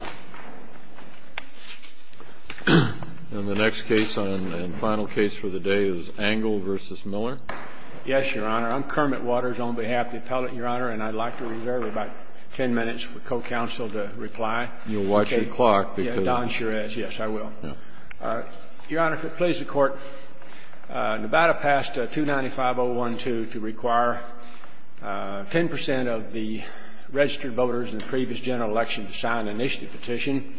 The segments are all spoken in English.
Yes, Your Honor. I'm Kermit Waters on behalf of the appellate, Your Honor, and I'd like to reserve about ten minutes for co-counsel to reply. You'll watch your clock because... Yes, I will. Your Honor, if it pleases the Court, Nevada passed 295.012 to require ten percent of the registered voters in the previous general election to sign an initiative petition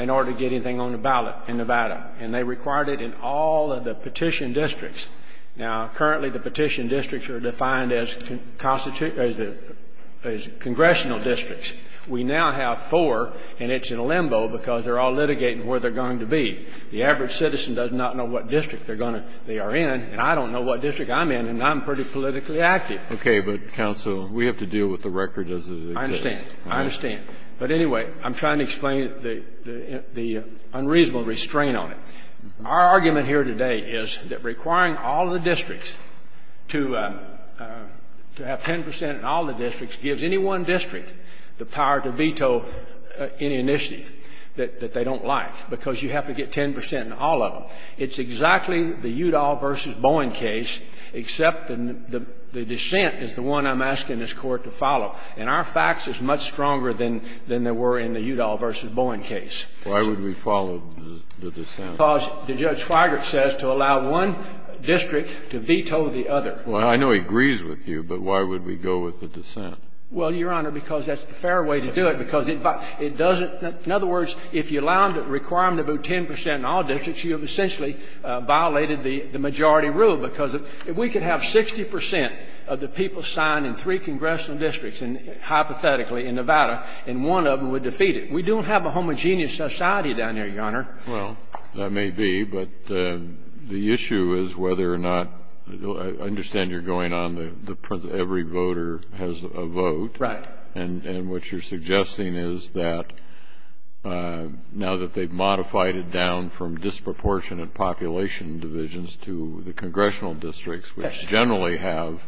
in order to get anything on the ballot in Nevada, and they required it in all of the petition districts. Now, currently the petition districts are defined as congressional districts. We now have four, and it's in a limbo because they're all litigating where they're going to be. The average citizen does not know what district they are in, and I don't know what district I'm in, and I'm pretty politically active. Okay. But, counsel, we have to deal with the record as it exists. I understand. I understand. But anyway, I'm trying to explain the unreasonable restraint on it. Our argument here today is that requiring all the districts to have ten percent in all the districts gives any one district the power to veto any initiative that they don't like, because you have to get ten percent in all of them. It's exactly the Udall v. Bowen case, except the dissent is the one I'm asking this Court to follow. And our facts is much stronger than they were in the Udall v. Bowen case. Why would we follow the dissent? Because the Judge Feigert says to allow one district to veto the other. Well, I know he agrees with you, but why would we go with the dissent? Well, Your Honor, because that's the fair way to do it, because it doesn't — in other districts, you have essentially violated the majority rule, because if we could have 60 percent of the people signed in three congressional districts, and hypothetically in Nevada, and one of them would defeat it, we don't have a homogeneous society down there, Your Honor. Well, that may be. But the issue is whether or not — I understand you're going on the principle that every voter has a vote. Right. And what you're suggesting is that now that they've modified it down from disproportionate population divisions to the congressional districts, which generally have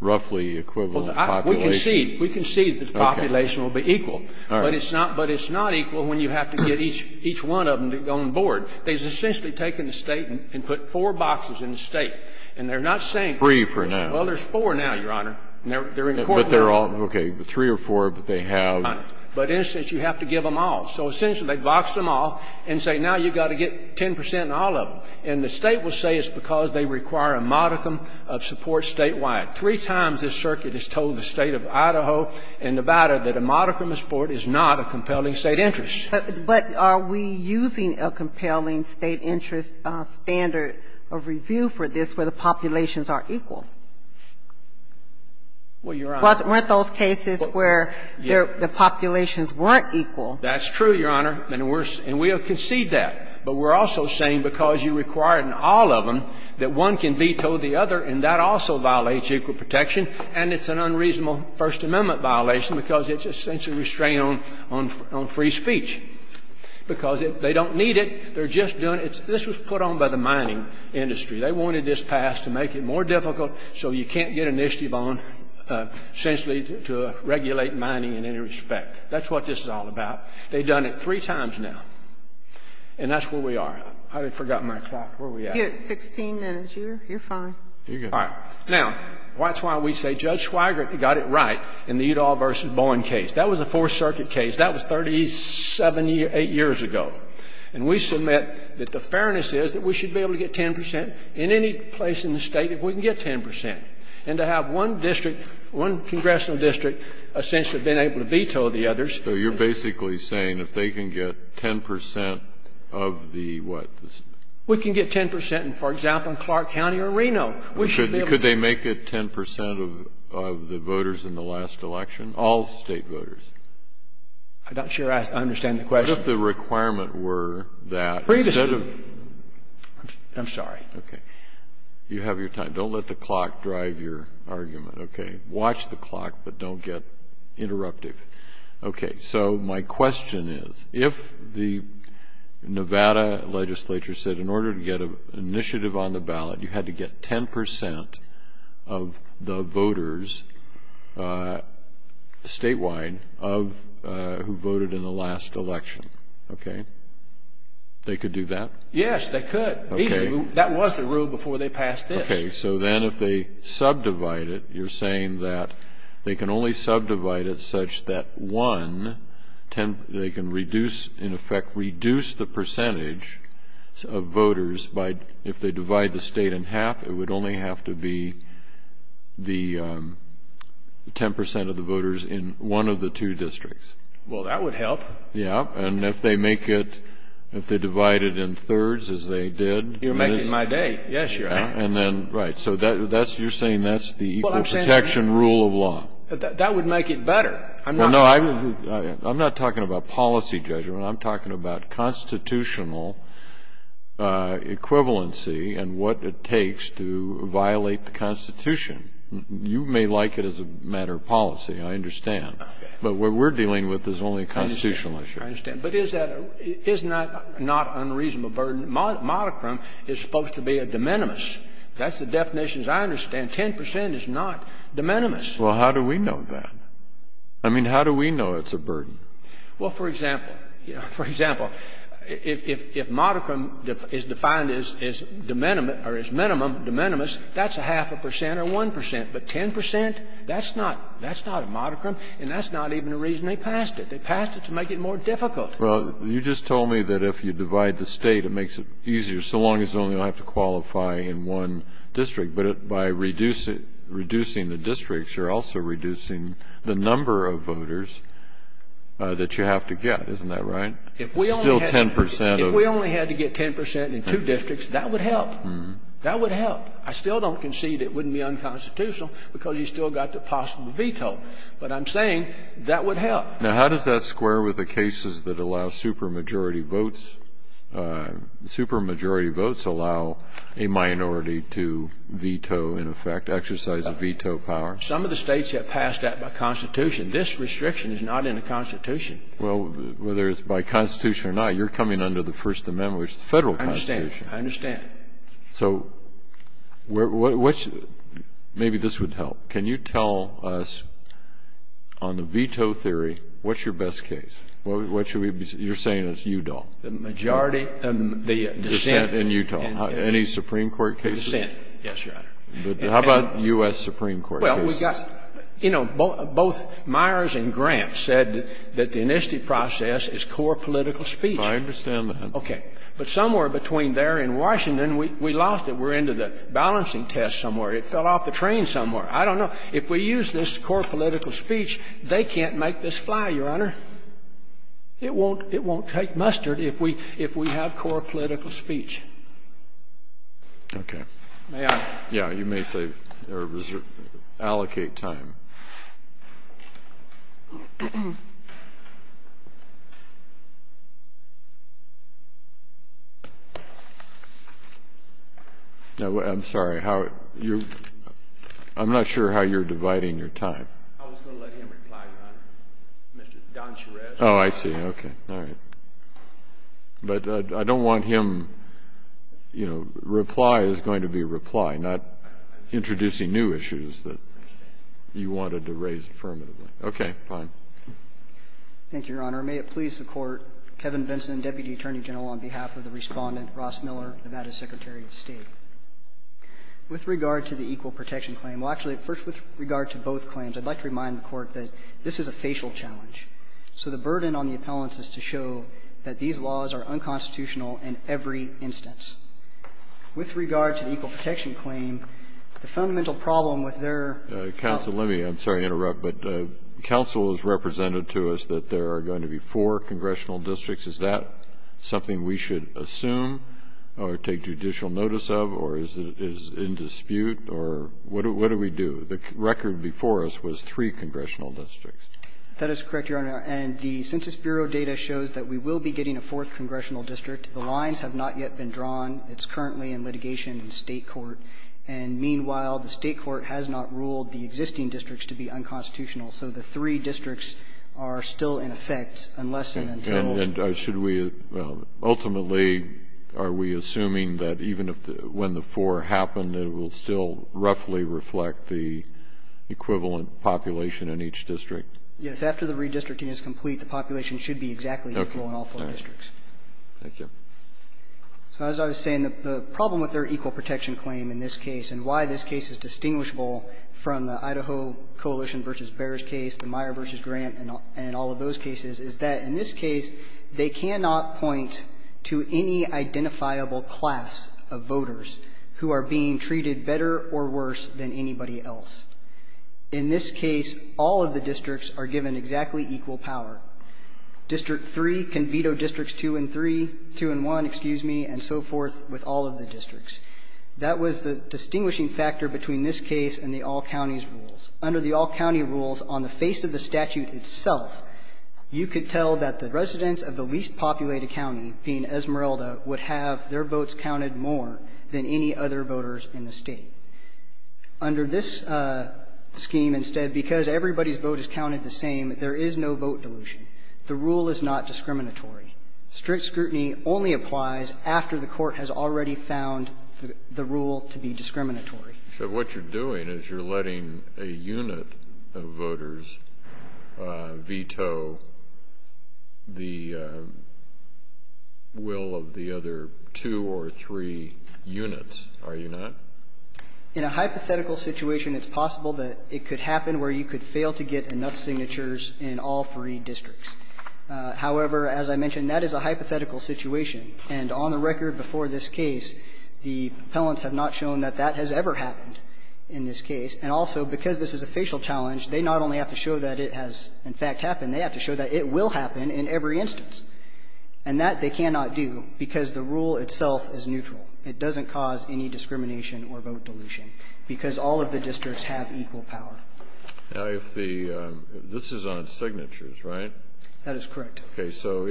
roughly equivalent populations. We concede that the population will be equal, but it's not — but it's not equal when you have to get each one of them on the board. They've essentially taken the State and put four boxes in the State. And they're not saying — Three for now. Well, there's four now, Your Honor. They're in court now. But they're all — okay, three or four, but they have — But in a sense, you have to give them all. So essentially, they boxed them all and say, now you've got to get 10 percent in all of them. And the State will say it's because they require a modicum of support statewide. Three times this circuit has told the State of Idaho and Nevada that a modicum of support is not a compelling State interest. But are we using a compelling State interest standard of review for this where the populations are equal? Well, Your Honor — Weren't those cases where the populations weren't equal? That's true, Your Honor, and we'll concede that. But we're also saying because you require in all of them that one can veto the other, and that also violates equal protection. And it's an unreasonable First Amendment violation because it's essentially a restraint on free speech, because they don't need it. They're just doing it. This was put on by the mining industry. They wanted this passed to make it more difficult so you can't get initiative on essentially to regulate mining in any respect. That's what this is all about. They've done it three times now. And that's where we are. I forgot my clock. Where are we at? You're at 16 minutes. You're fine. You're good. All right. Now, that's why we say Judge Swigert got it right in the Udall v. Bowen case. That was a Fourth Circuit case. That was 37 — eight years ago. And we submit that the fairness is that we should be able to get 10 percent in any place in the State if we can get 10 percent. And to have one district, one congressional district, essentially been able to veto the others. So you're basically saying if they can get 10 percent of the what? We can get 10 percent, for example, in Clark County or Reno. We should be able to get 10 percent of the voters in the last election, all State voters. I'm not sure I understand the question. What if the requirement were that instead of — Previously. I'm sorry. Okay. You have your time. Don't let the clock drive your argument. Okay. Watch the clock, but don't get interruptive. Okay. So my question is, if the Nevada legislature said in order to get an initiative on the ballot, you had to get 10 percent of the voters statewide of — who voted in the last election. Okay. They could do that? Yes, they could. Okay. That was the rule before they passed this. Okay. So then if they subdivide it, you're saying that they can only subdivide it such that one — they can reduce, in effect, reduce the percentage of voters by — if they divide the state in half, it would only have to be the 10 percent of the voters in one of the two districts. Well, that would help. Yeah. And if they make it — if they divide it in thirds, as they did — You're making my day. Yes, you are. And then — right. So that's — you're saying that's the equal protection rule of law. That would make it better. I'm not — Well, no, I'm not talking about policy judgment. I'm talking about constitutional equivalency and what it takes to violate the Constitution. You may like it as a matter of policy. I understand. Okay. But what we're dealing with is only a constitutional issue. I understand. But is that — is not unreasonable burden? Modicrum is supposed to be a de minimis. That's the definition, as I understand. 10 percent is not de minimis. Well, how do we know that? I mean, how do we know it's a burden? Well, for example, you know, for example, if — if modicrum is defined as de minimis or as minimum de minimis, that's a half a percent or 1 percent. But 10 percent, that's not — that's not a modicrum, and that's not even the reason they passed it. They passed it to make it more difficult. Well, you just told me that if you divide the State, it makes it easier, so long as only you'll have to qualify in one district. But by reducing the districts, you're also reducing the number of voters that you have to get. Isn't that right? If we only had — Still 10 percent of — If we only had to get 10 percent in two districts, that would help. That would help. I still don't concede it wouldn't be unconstitutional because you still got the possible veto. But I'm saying that would help. Now, how does that square with the cases that allow supermajority votes — supermajority votes allow a minority to veto, in effect, exercise a veto power? Some of the States have passed that by Constitution. This restriction is not in the Constitution. Well, whether it's by Constitution or not, you're coming under the First Amendment, which is the Federal Constitution. I understand. I understand. So what's — maybe this would help. Can you tell us, on the veto theory, what's your best case? What should we be — you're saying it's Udall. The majority — the dissent in — Dissent in Udall. Any Supreme Court cases? The dissent. Yes, Your Honor. How about U.S. Supreme Court cases? Well, we got — you know, both Myers and Grant said that the enlistee process is core political speech. I understand that. Okay. But somewhere between there and Washington, we lost it. We're into the balancing test somewhere. It fell off the train somewhere. I don't know. If we use this core political speech, they can't make this fly, Your Honor. It won't take mustard if we have core political speech. Okay. May I? Yeah. You may say — or allocate time. No, I'm sorry. How — you're — I'm not sure how you're dividing your time. I was going to let him reply, Your Honor. Mr. Don Charest — Oh, I see. Okay. All right. But I don't want him — you know, reply is going to be reply, not introducing new issues that you wanted to raise affirmatively. Okay. Fine. Thank you, Your Honor. May it please the Court, Kevin Benson, Deputy Attorney General, on behalf of the With regard to the equal protection claim — well, actually, first, with regard to both claims, I'd like to remind the Court that this is a facial challenge. So the burden on the appellants is to show that these laws are unconstitutional in every instance. With regard to the equal protection claim, the fundamental problem with their — Counsel, let me — I'm sorry to interrupt, but counsel has represented to us that there are going to be four congressional districts. Is that something we should assume or take judicial notice of? Or is it in dispute? Or what do we do? The record before us was three congressional districts. That is correct, Your Honor. And the Census Bureau data shows that we will be getting a fourth congressional district. The lines have not yet been drawn. It's currently in litigation in State court. And meanwhile, the State court has not ruled the existing districts to be unconstitutional. So the three districts are still in effect unless and until — And should we — ultimately, are we assuming that even if the — when the four happen, it will still roughly reflect the equivalent population in each district? Yes. After the redistricting is complete, the population should be exactly equal in all four districts. Okay. Thank you. So as I was saying, the problem with their equal protection claim in this case, and why this case is distinguishable from the Idaho Coalition v. Behrs case, the cannot point to any identifiable class of voters who are being treated better or worse than anybody else. In this case, all of the districts are given exactly equal power. District 3 can veto districts 2 and 3 — 2 and 1, excuse me — and so forth with all of the districts. That was the distinguishing factor between this case and the all-counties rules. Under the all-county rules, on the face of the statute itself, you could tell that the least populated county, being Esmeralda, would have their votes counted more than any other voters in the state. Under this scheme, instead, because everybody's vote is counted the same, there is no vote dilution. The rule is not discriminatory. Strict scrutiny only applies after the court has already found the rule to be discriminatory. So what you're doing is you're letting a unit of voters veto districts 2 and 3. That's not the will of the other two or three units, are you not? In a hypothetical situation, it's possible that it could happen where you could fail to get enough signatures in all three districts. However, as I mentioned, that is a hypothetical situation. And on the record before this case, the propellants have not shown that that has ever happened in this case. And also, because this is a facial challenge, they not only have to show that it has, in fact, happened, they have to show that it will happen in every instance. And that they cannot do, because the rule itself is neutral. It doesn't cause any discrimination or vote dilution, because all of the districts have equal power. Now, if the, this is on signatures, right? That is correct. Okay, so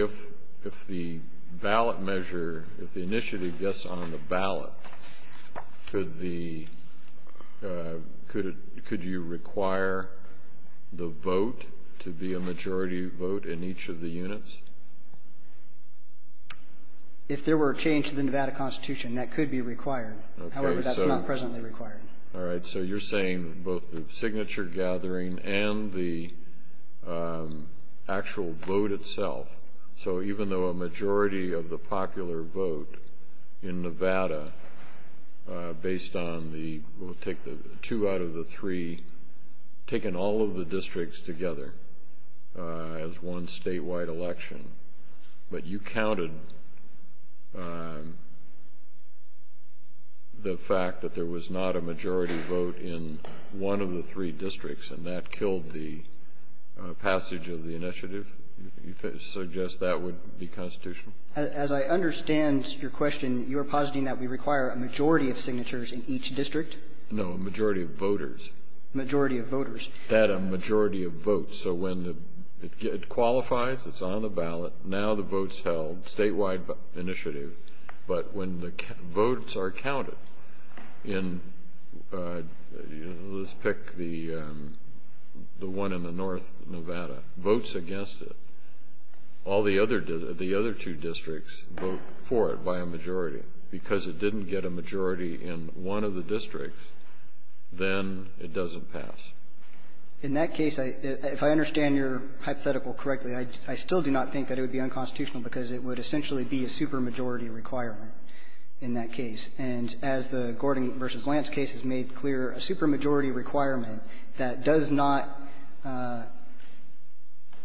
if the ballot measure, if the initiative gets on the ballot, could the, could you require the vote to be a majority vote in each of the units? If there were a change to the Nevada Constitution, that could be required. However, that's not presently required. All right, so you're saying both the signature gathering and the actual vote itself. So even though a majority of the popular vote in Nevada, based on the, we'll take the two out of the three, taken all of the districts together as one statewide election, but you counted the fact that there was not a majority vote in one of the three districts, and that killed the passage of the initiative? You suggest that would be constitutional? As I understand your question, you are positing that we require a majority of signatures in each district? No, a majority of voters. Majority of voters. That a majority of votes. So when the, it qualifies, it's on the ballot, now the vote's held, statewide initiative, but when the votes are counted in, let's pick the one in the north, Nevada, votes against it, all the other two districts vote for it by a majority. Because it didn't get a majority in one of the districts, then it doesn't pass. In that case, if I understand your hypothetical correctly, I still do not think that it would be unconstitutional because it would essentially be a supermajority requirement in that case. And as the Gordon v. Lance case has made clear, a supermajority requirement that does not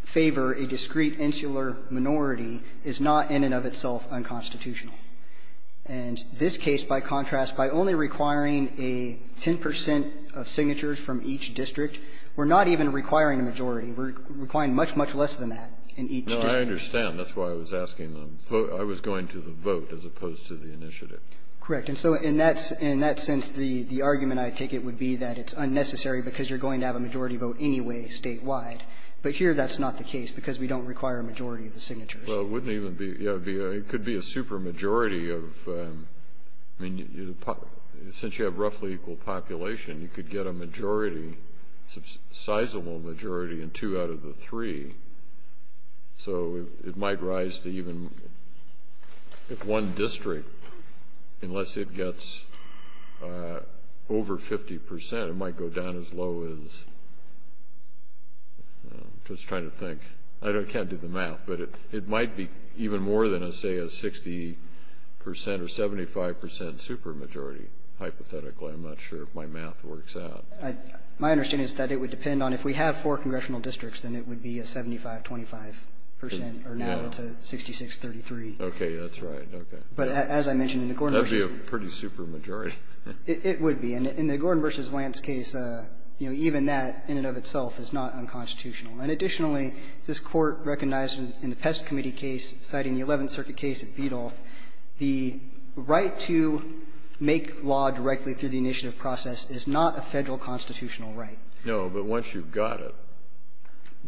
favor a discrete insular minority is not in and of itself unconstitutional. And this case, by contrast, by only requiring a 10 percent of signatures from each district, we're not even requiring a majority. We're requiring much, much less than that in each district. No, I understand. That's why I was asking the vote. I was going to the vote as opposed to the initiative. Correct. And so in that sense, the argument I take it would be that it's unnecessary because you're going to have a majority vote anyway statewide. But here that's not the case because we don't require a majority of the signatures. Well, it wouldn't even be — it could be a supermajority of — I mean, since you have roughly equal population, you could get a majority, a sizable majority in two out of the three, so it might rise to even — if one district, unless it gets over 50 percent, it might go down as low as — I'm just trying to think. I can't do the math, but it might be even more than, say, a 60 percent or 75 percent supermajority. Hypothetically, I'm not sure if my math works out. My understanding is that it would depend on if we have four congressional districts, then it would be a 75-25 percent, or now it's a 66-33. Okay. That's right. Okay. But as I mentioned, in the Gordon v. Lance case — That would be a pretty supermajority. It would be. And in the Gordon v. Lance case, you know, even that in and of itself is not unconstitutional. And additionally, this Court recognized in the Pest Committee case, citing the Eleventh Circuit case at Beadle, the right to make law directly through the initiative process is not a Federal constitutional right. No. But once you've got it,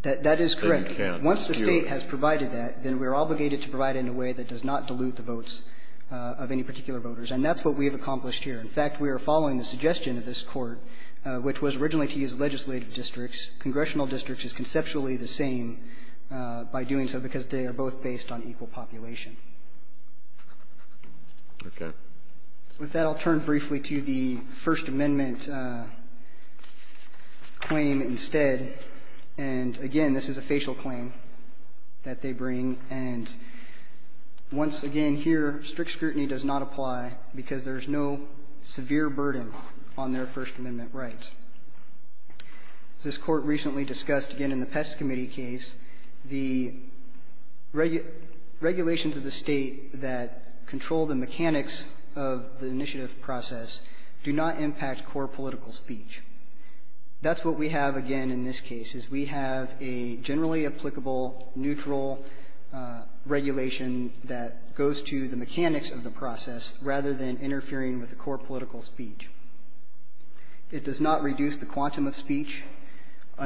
then you can't skew it. That is correct. Once the State has provided that, then we're obligated to provide it in a way that does not dilute the votes of any particular voters. And that's what we have accomplished here. In fact, we are following the suggestion of this Court, which was originally to use legislative districts. Congressional districts is conceptually the same by doing so because they are both based on equal population. Okay. With that, I'll turn briefly to the First Amendment claim instead. And again, this is a facial claim that they bring. And once again, here, strict scrutiny does not apply because there is no severe burden on their First Amendment rights. This Court recently discussed, again, in the Pest Committee case, the regulations of the State that control the mechanics of the initiative process do not impact core political speech. That's what we have, again, in this case, is we have a generally applicable, neutral regulation that goes to the mechanics of the process rather than interfering with the core political speech. It does not reduce the quantum of speech. It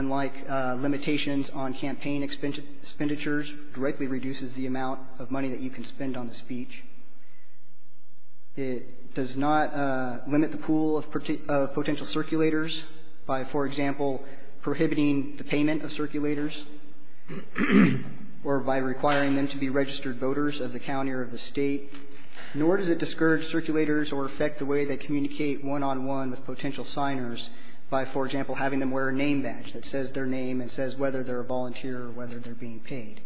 does not limit the pool of potential circulators by, for example, prohibiting the payment of circulators, or by requiring them to be registered voters of the county or of the State, nor does it discourage circulators or affect the way they communicate one-on-one with potential signers by, for example, having them wear a name badge that says their name and says whether they're a volunteer or whether they're being paid.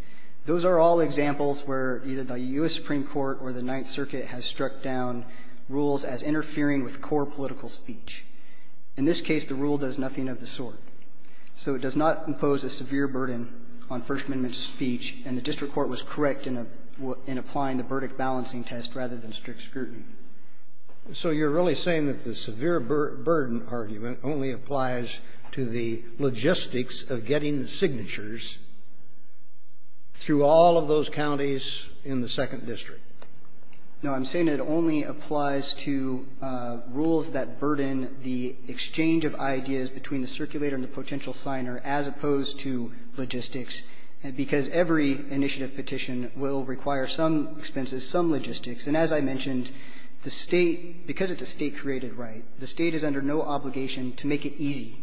Those are all examples where either the U.S. Supreme Court or the Ninth Circuit has struck down rules as interfering with core political speech. In this case, the rule does nothing of the sort. So it does not impose a severe burden on First Amendment speech, and the district court was correct in applying the verdict balancing test rather than strict scrutiny. So you're really saying that the severe burden argument only applies to the logistics of getting the signatures through all of those counties in the second district? No. I'm saying it only applies to rules that burden the exchange of ideas between the circulator and the potential signer as opposed to logistics, because every initiative petition will require some expenses, some logistics. And as I mentioned, the State, because it's a State-created right, the State is under no obligation to make it easy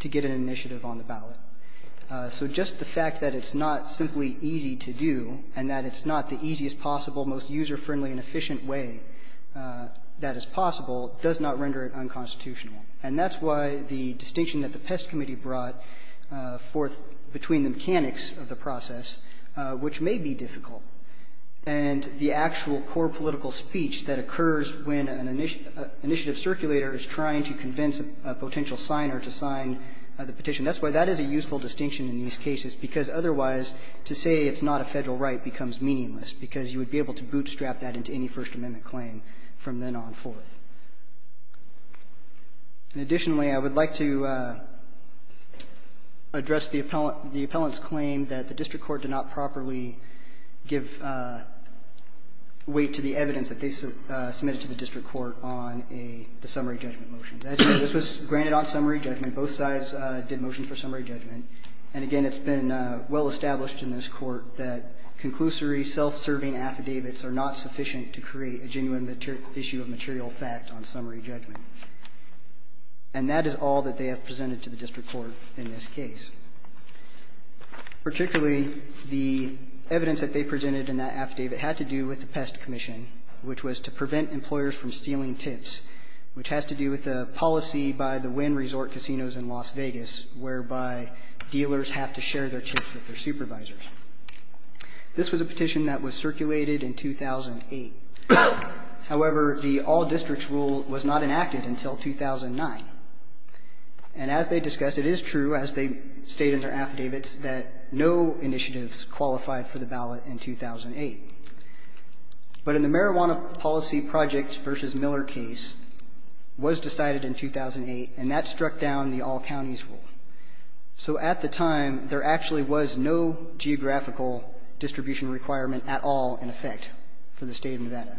to get an initiative on the ballot. So just the fact that it's not simply easy to do and that it's not the easiest possible, most user-friendly and efficient way that is possible does not render it unconstitutional. And that's why the distinction that the Pest Committee brought forth between the mechanics of the process, which may be difficult, and the actual core political speech that would convince a potential signer to sign the petition, that's why that is a useful distinction in these cases, because otherwise, to say it's not a Federal right becomes meaningless, because you would be able to bootstrap that into any First Amendment claim from then on forth. And additionally, I would like to address the appellant's claim that the district court did not properly give weight to the evidence that they submitted to the district court on a summary judgment motion. This was granted on summary judgment. Both sides did motions for summary judgment. And again, it's been well established in this Court that conclusory, self-serving affidavits are not sufficient to create a genuine issue of material fact on summary judgment. And that is all that they have presented to the district court in this case. Particularly, the evidence that they presented in that affidavit had to do with the Pest Commission, which was to prevent employers from stealing tips, which has to do with a policy by the Wynn Resort Casinos in Las Vegas, whereby dealers have to share their tips with their supervisors. This was a petition that was circulated in 2008. However, the all districts rule was not enacted until 2009. And as they discussed, it is true, as they state in their affidavits, that no initiatives qualified for the ballot in 2008. But in the Marijuana Policy Project v. Miller case, it was decided in 2008, and that struck down the all counties rule. So at the time, there actually was no geographical distribution requirement at all in effect for the State of Nevada.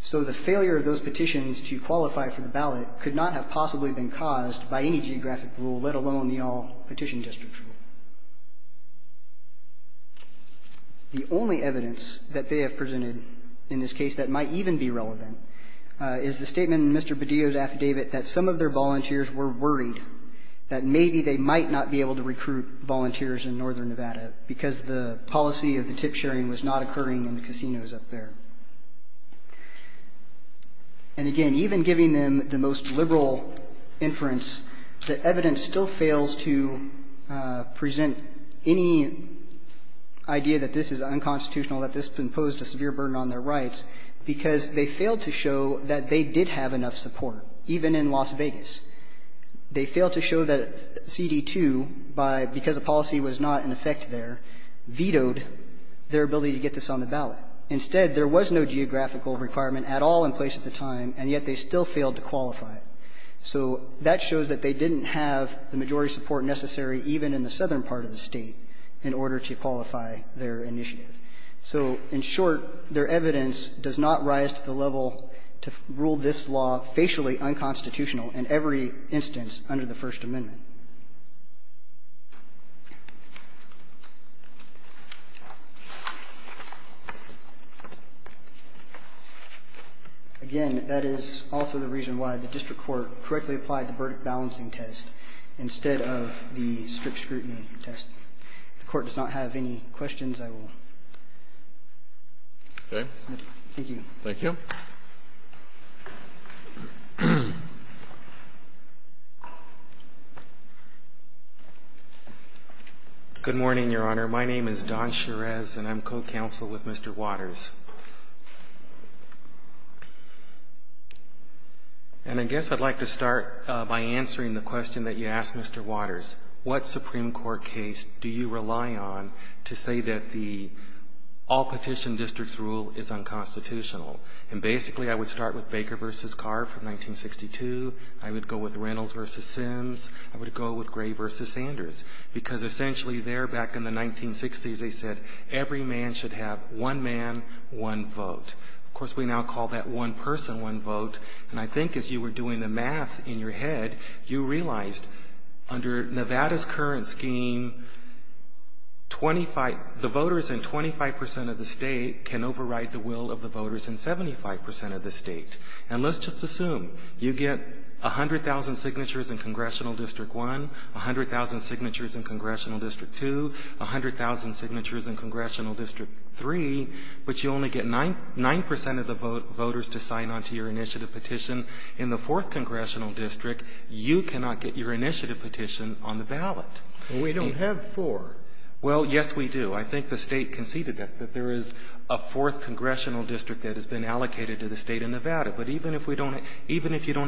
So the failure of those petitions to qualify for the ballot could not have possibly been caused by any geographic rule, let alone the all petition district rule. The only evidence that they have presented in this case that might even be relevant is the statement in Mr. Bedillo's affidavit that some of their volunteers were worried that maybe they might not be able to recruit volunteers in northern Nevada because the policy of the tip sharing was not occurring in the casinos up there. And again, even giving them the most liberal inference, the evidence still fails to present any idea that this is unconstitutional, that this imposed a severe burden on their rights, because they failed to show that they did have enough support, even in Las Vegas. They failed to show that CD2, because the policy was not in effect there, vetoed their ability to get this on the ballot. Instead, there was no geographical requirement at all in place at the time, and yet they still failed to qualify. So that shows that they didn't have the majority support necessary even in the southern part of the State in order to qualify their initiative. So in short, their evidence does not rise to the level to rule this law facially unconstitutional in every instance under the First Amendment. Again, that is also the reason why the district court correctly applied the balancing test instead of the strict scrutiny test. If the Court does not have any questions, I will submit. Thank you. Thank you. Good morning, Your Honor. My name is Don Cherez, and I'm co-counsel with Mr. Waters. And I guess I'd like to start by answering the question that you asked, Mr. Waters. What Supreme Court case do you rely on to say that the all-petition district's rule is unconstitutional? And basically, I would start with Baker v. Carr from 1962. I would go with Reynolds v. Sims. I would go with Gray v. Sanders, because essentially there, back in the 1960s, they said every man should have one man, one vote. Of course, we now call that one person, one vote. And I think as you were doing the math in your head, you realized under Nevada's current scheme, the voters in 25 percent of the state can override the will of the voters in 75 percent of the state. And let's just assume you get 100,000 signatures in Congressional District 1, 100,000 signatures in Congressional District 2, 100,000 signatures in Congressional District 3, but you only get 9 percent of the voters to sign on to your initiative petition. In the 4th Congressional District, you cannot get your initiative petition on the ballot. And we don't have four. Well, yes, we do. I think the State conceded that, that there is a 4th Congressional District that has been allocated to the State of Nevada. But even if we don't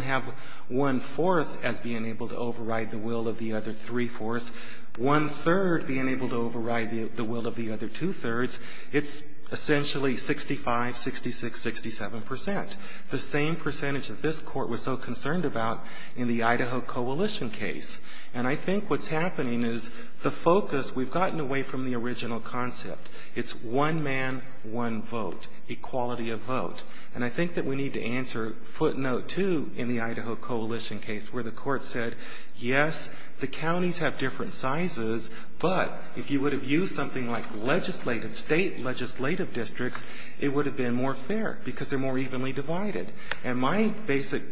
have one-fourth as being able to override the will of the other three-fourths, one-third being able to override the will of the other two-thirds, it's essentially 65, 66, 67 percent. The same percentage that this Court was so concerned about in the Idaho Coalition case. And I think what's happening is the focus, we've gotten away from the original concept. It's one man, one vote, equality of vote. And I think that we need to answer footnote two in the Idaho Coalition case, where the Court said, yes, the counties have different sizes, but if you would have used something like legislative, state legislative districts, it would have been more fair, because they're more evenly divided. And my basic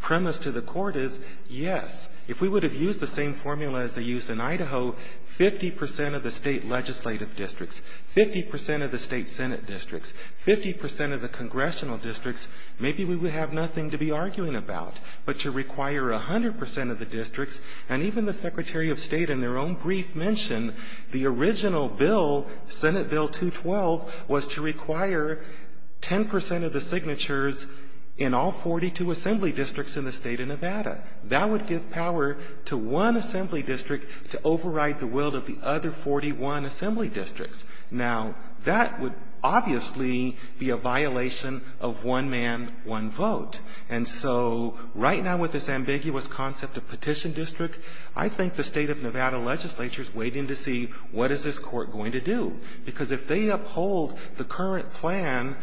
premise to the Court is, yes, if we would have used the same formula as they used in Idaho, 50 percent of the state legislative districts, 50 percent of the state Senate districts, 50 percent of the congressional districts, maybe we would have nothing to be arguing about. But to require 100 percent of the districts, and even the Secretary of State in their own brief mentioned the original bill, Senate Bill 212, was to require 10 percent of the signatures in all 42 assembly districts in the state of Nevada. That would give power to one assembly district to override the will of the other 41 assembly districts. Now, that would obviously be a violation of one man, one vote. And so, right now with this ambiguous concept of petition district, I think the state of Nevada legislature is waiting to see what is this Court going to do. Because if they uphold the current plan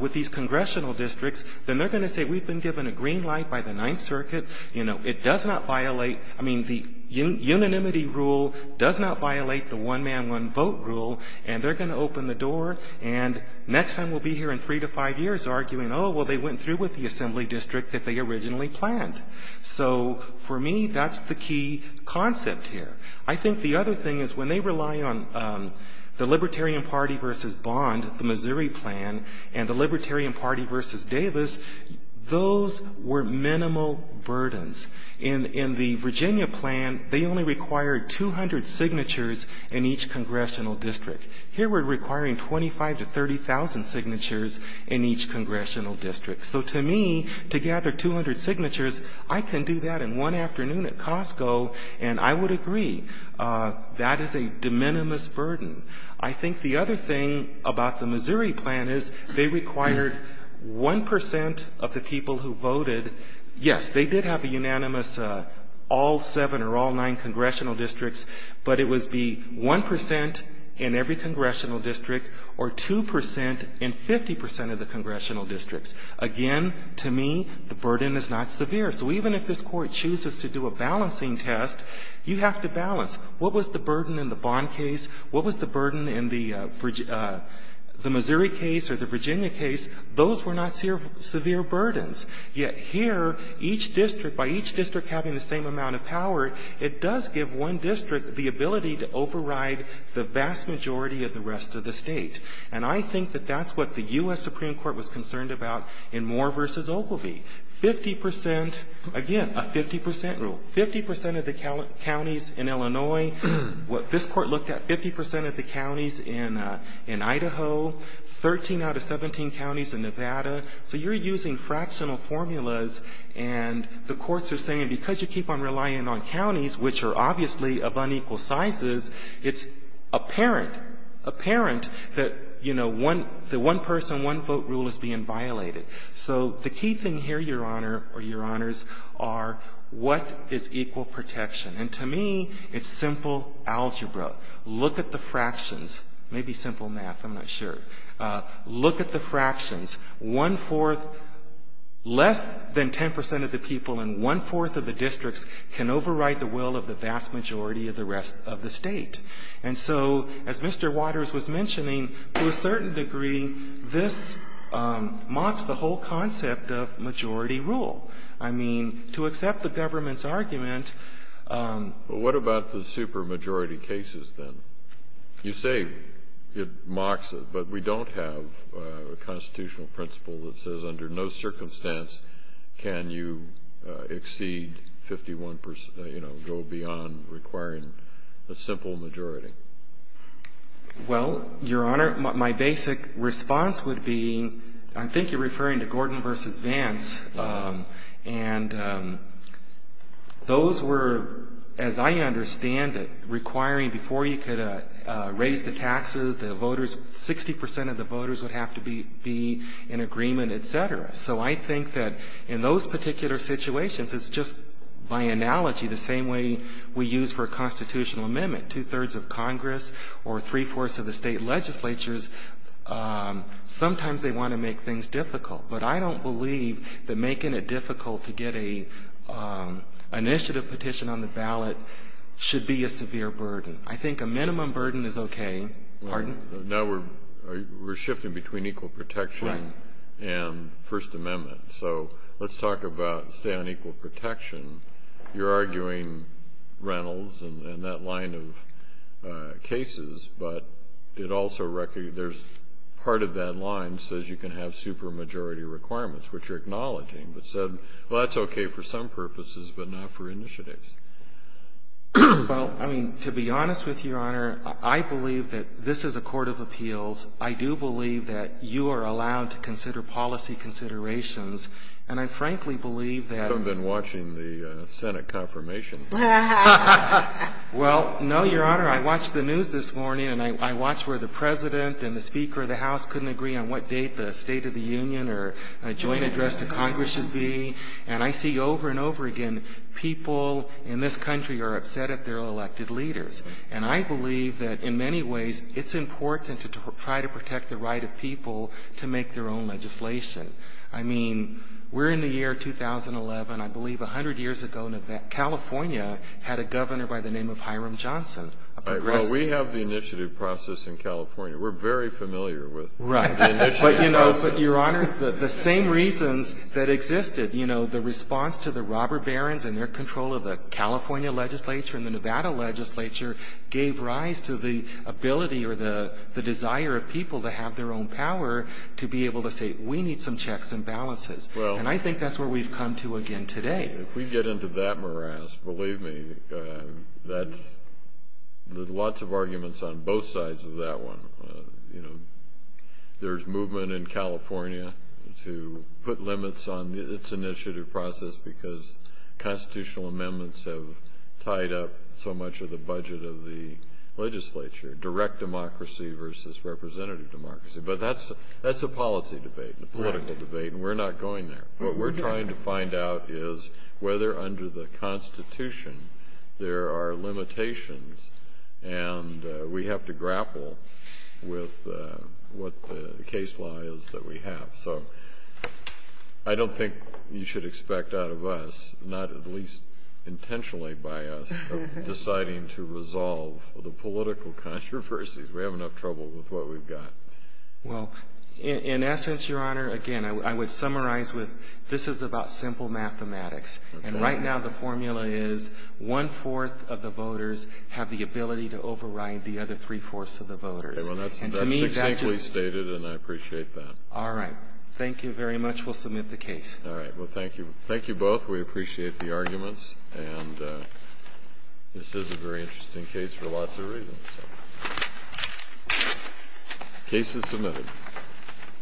with these congressional districts, then they're going to say, we've been given a green light by the Ninth Circuit. You know, it does not violate, I mean, the unanimity rule does not violate the one man, one vote rule. And they're going to open the door, and next time we'll be here in three to five years arguing, oh, well, they went through with the assembly district that they originally planned. So, for me, that's the key concept here. I think the other thing is when they rely on the Libertarian Party versus Bond, the Missouri plan, and the Libertarian Party versus Davis, those were minimal burdens. In the Virginia plan, they only required 200 signatures in each congressional district. Here we're requiring 25 to 30,000 signatures in each congressional district. So, to me, to gather 200 signatures, I can do that in one afternoon at Costco, and I would agree, that is a de minimis burden. I think the other thing about the Missouri plan is they required 1 percent of the people who voted, yes, they did have a unanimous all seven or all nine congressional districts, but it was the 1 percent in every congressional district, or 2 percent in 50 percent of the congressional districts. Again, to me, the burden is not severe. So, even if this Court chooses to do a balancing test, you have to balance. What was the burden in the Bond case? What was the burden in the Missouri case or the Virginia case? Those were not severe burdens. Yet, here, each district, by each district having the same amount of power, it does give one district the ability to override the vast majority of the rest of the state. And I think that that's what the U.S. Supreme Court was concerned about in Moore v. Ogilvie. Fifty percent, again, a 50 percent rule, 50 percent of the counties in Illinois, what this Court looked at, 50 percent of the counties in Idaho, 13 out of 17 counties in Nevada. So, you're using fractional formulas, and the courts are saying, because you keep on violating counties, which are obviously of unequal sizes, it's apparent, apparent that, you know, the one-person, one-vote rule is being violated. So, the key thing here, Your Honor, or Your Honors, are what is equal protection? And to me, it's simple algebra. Look at the fractions. Maybe simple math. I'm not sure. Look at the fractions. One-fourth, less than 10 percent of the people in one-fourth of the districts can override the will of the vast majority of the rest of the state. And so, as Mr. Waters was mentioning, to a certain degree, this mocks the whole concept of majority rule. I mean, to accept the government's argument… Well, what about the supermajority cases, then? You say it mocks it, but we don't have a constitutional principle that says under no circumstance can you exceed 51 percent, you know, go beyond requiring a simple majority. Well, Your Honor, my basic response would be, I think you're referring to Gordon v. Vance, and those were, as I understand it, requiring before you could have raised the taxes, the voters, 60 percent of the voters would have to be in agreement, et cetera. So I think that in those particular situations, it's just by analogy the same way we use for a constitutional amendment. Two-thirds of Congress or three-fourths of the state legislatures, sometimes they want to make things difficult. But I don't believe that making it difficult to get an initiative petition on the ballot should be a severe burden. I think a minimum burden is okay. Pardon? Now we're shifting between equal protection and First Amendment. So let's talk about stay on equal protection. You're arguing Reynolds and that line of cases, but it also… there's part of that line says you can have supermajority requirements, which you're acknowledging, but said, well, that's okay for some purposes, but not for initiatives. Well, I mean, to be honest with you, Your Honor, I believe that this is a court of appeals. I do believe that you are allowed to consider policy considerations, and I frankly believe that… You haven't been watching the Senate confirmation. Well, no, Your Honor. I watched the news this morning, and I watched where the President and the Speaker of the House couldn't agree on what date the State of the Union or joint address to Congress should be. And I see over and over again, people in this country are upset at their elected leaders. And I believe that in many ways, it's important to try to protect the right of people to make their own legislation. I mean, we're in the year 2011. I believe 100 years ago, California had a governor by the name of Hiram Johnson, a progressive. Well, we have the initiative process in California. We're very familiar with the initiative process. But, Your Honor, the same reasons that existed, you know, the response to the robber barons and their control of the California legislature and the Nevada legislature gave rise to the ability or the desire of people to have their own power to be able to say, we need some checks and balances. And I think that's where we've come to again today. If we get into that morass, believe me, there's lots of arguments on both sides of that one. You know, there's movement in California to put limits on its initiative process because constitutional amendments have tied up so much of the budget of the legislature, direct democracy versus representative democracy. But that's a policy debate, a political debate, and we're not going there. What we're trying to find out is whether under the Constitution, there are limitations and we have to grapple with what the case law is that we have. So I don't think you should expect out of us, not at least intentionally by us, deciding to resolve the political controversies. We have enough trouble with what we've got. Well, in essence, Your Honor, again, I would summarize with this is about simple mathematics. And right now, the formula is one-fourth of the voters have the ability to override the other three-fourths of the voters. Well, that's succinctly stated, and I appreciate that. All right. Thank you very much. We'll submit the case. All right. Well, thank you. Thank you both. We appreciate the arguments. And this is a very interesting case for lots of reasons. Case is submitted.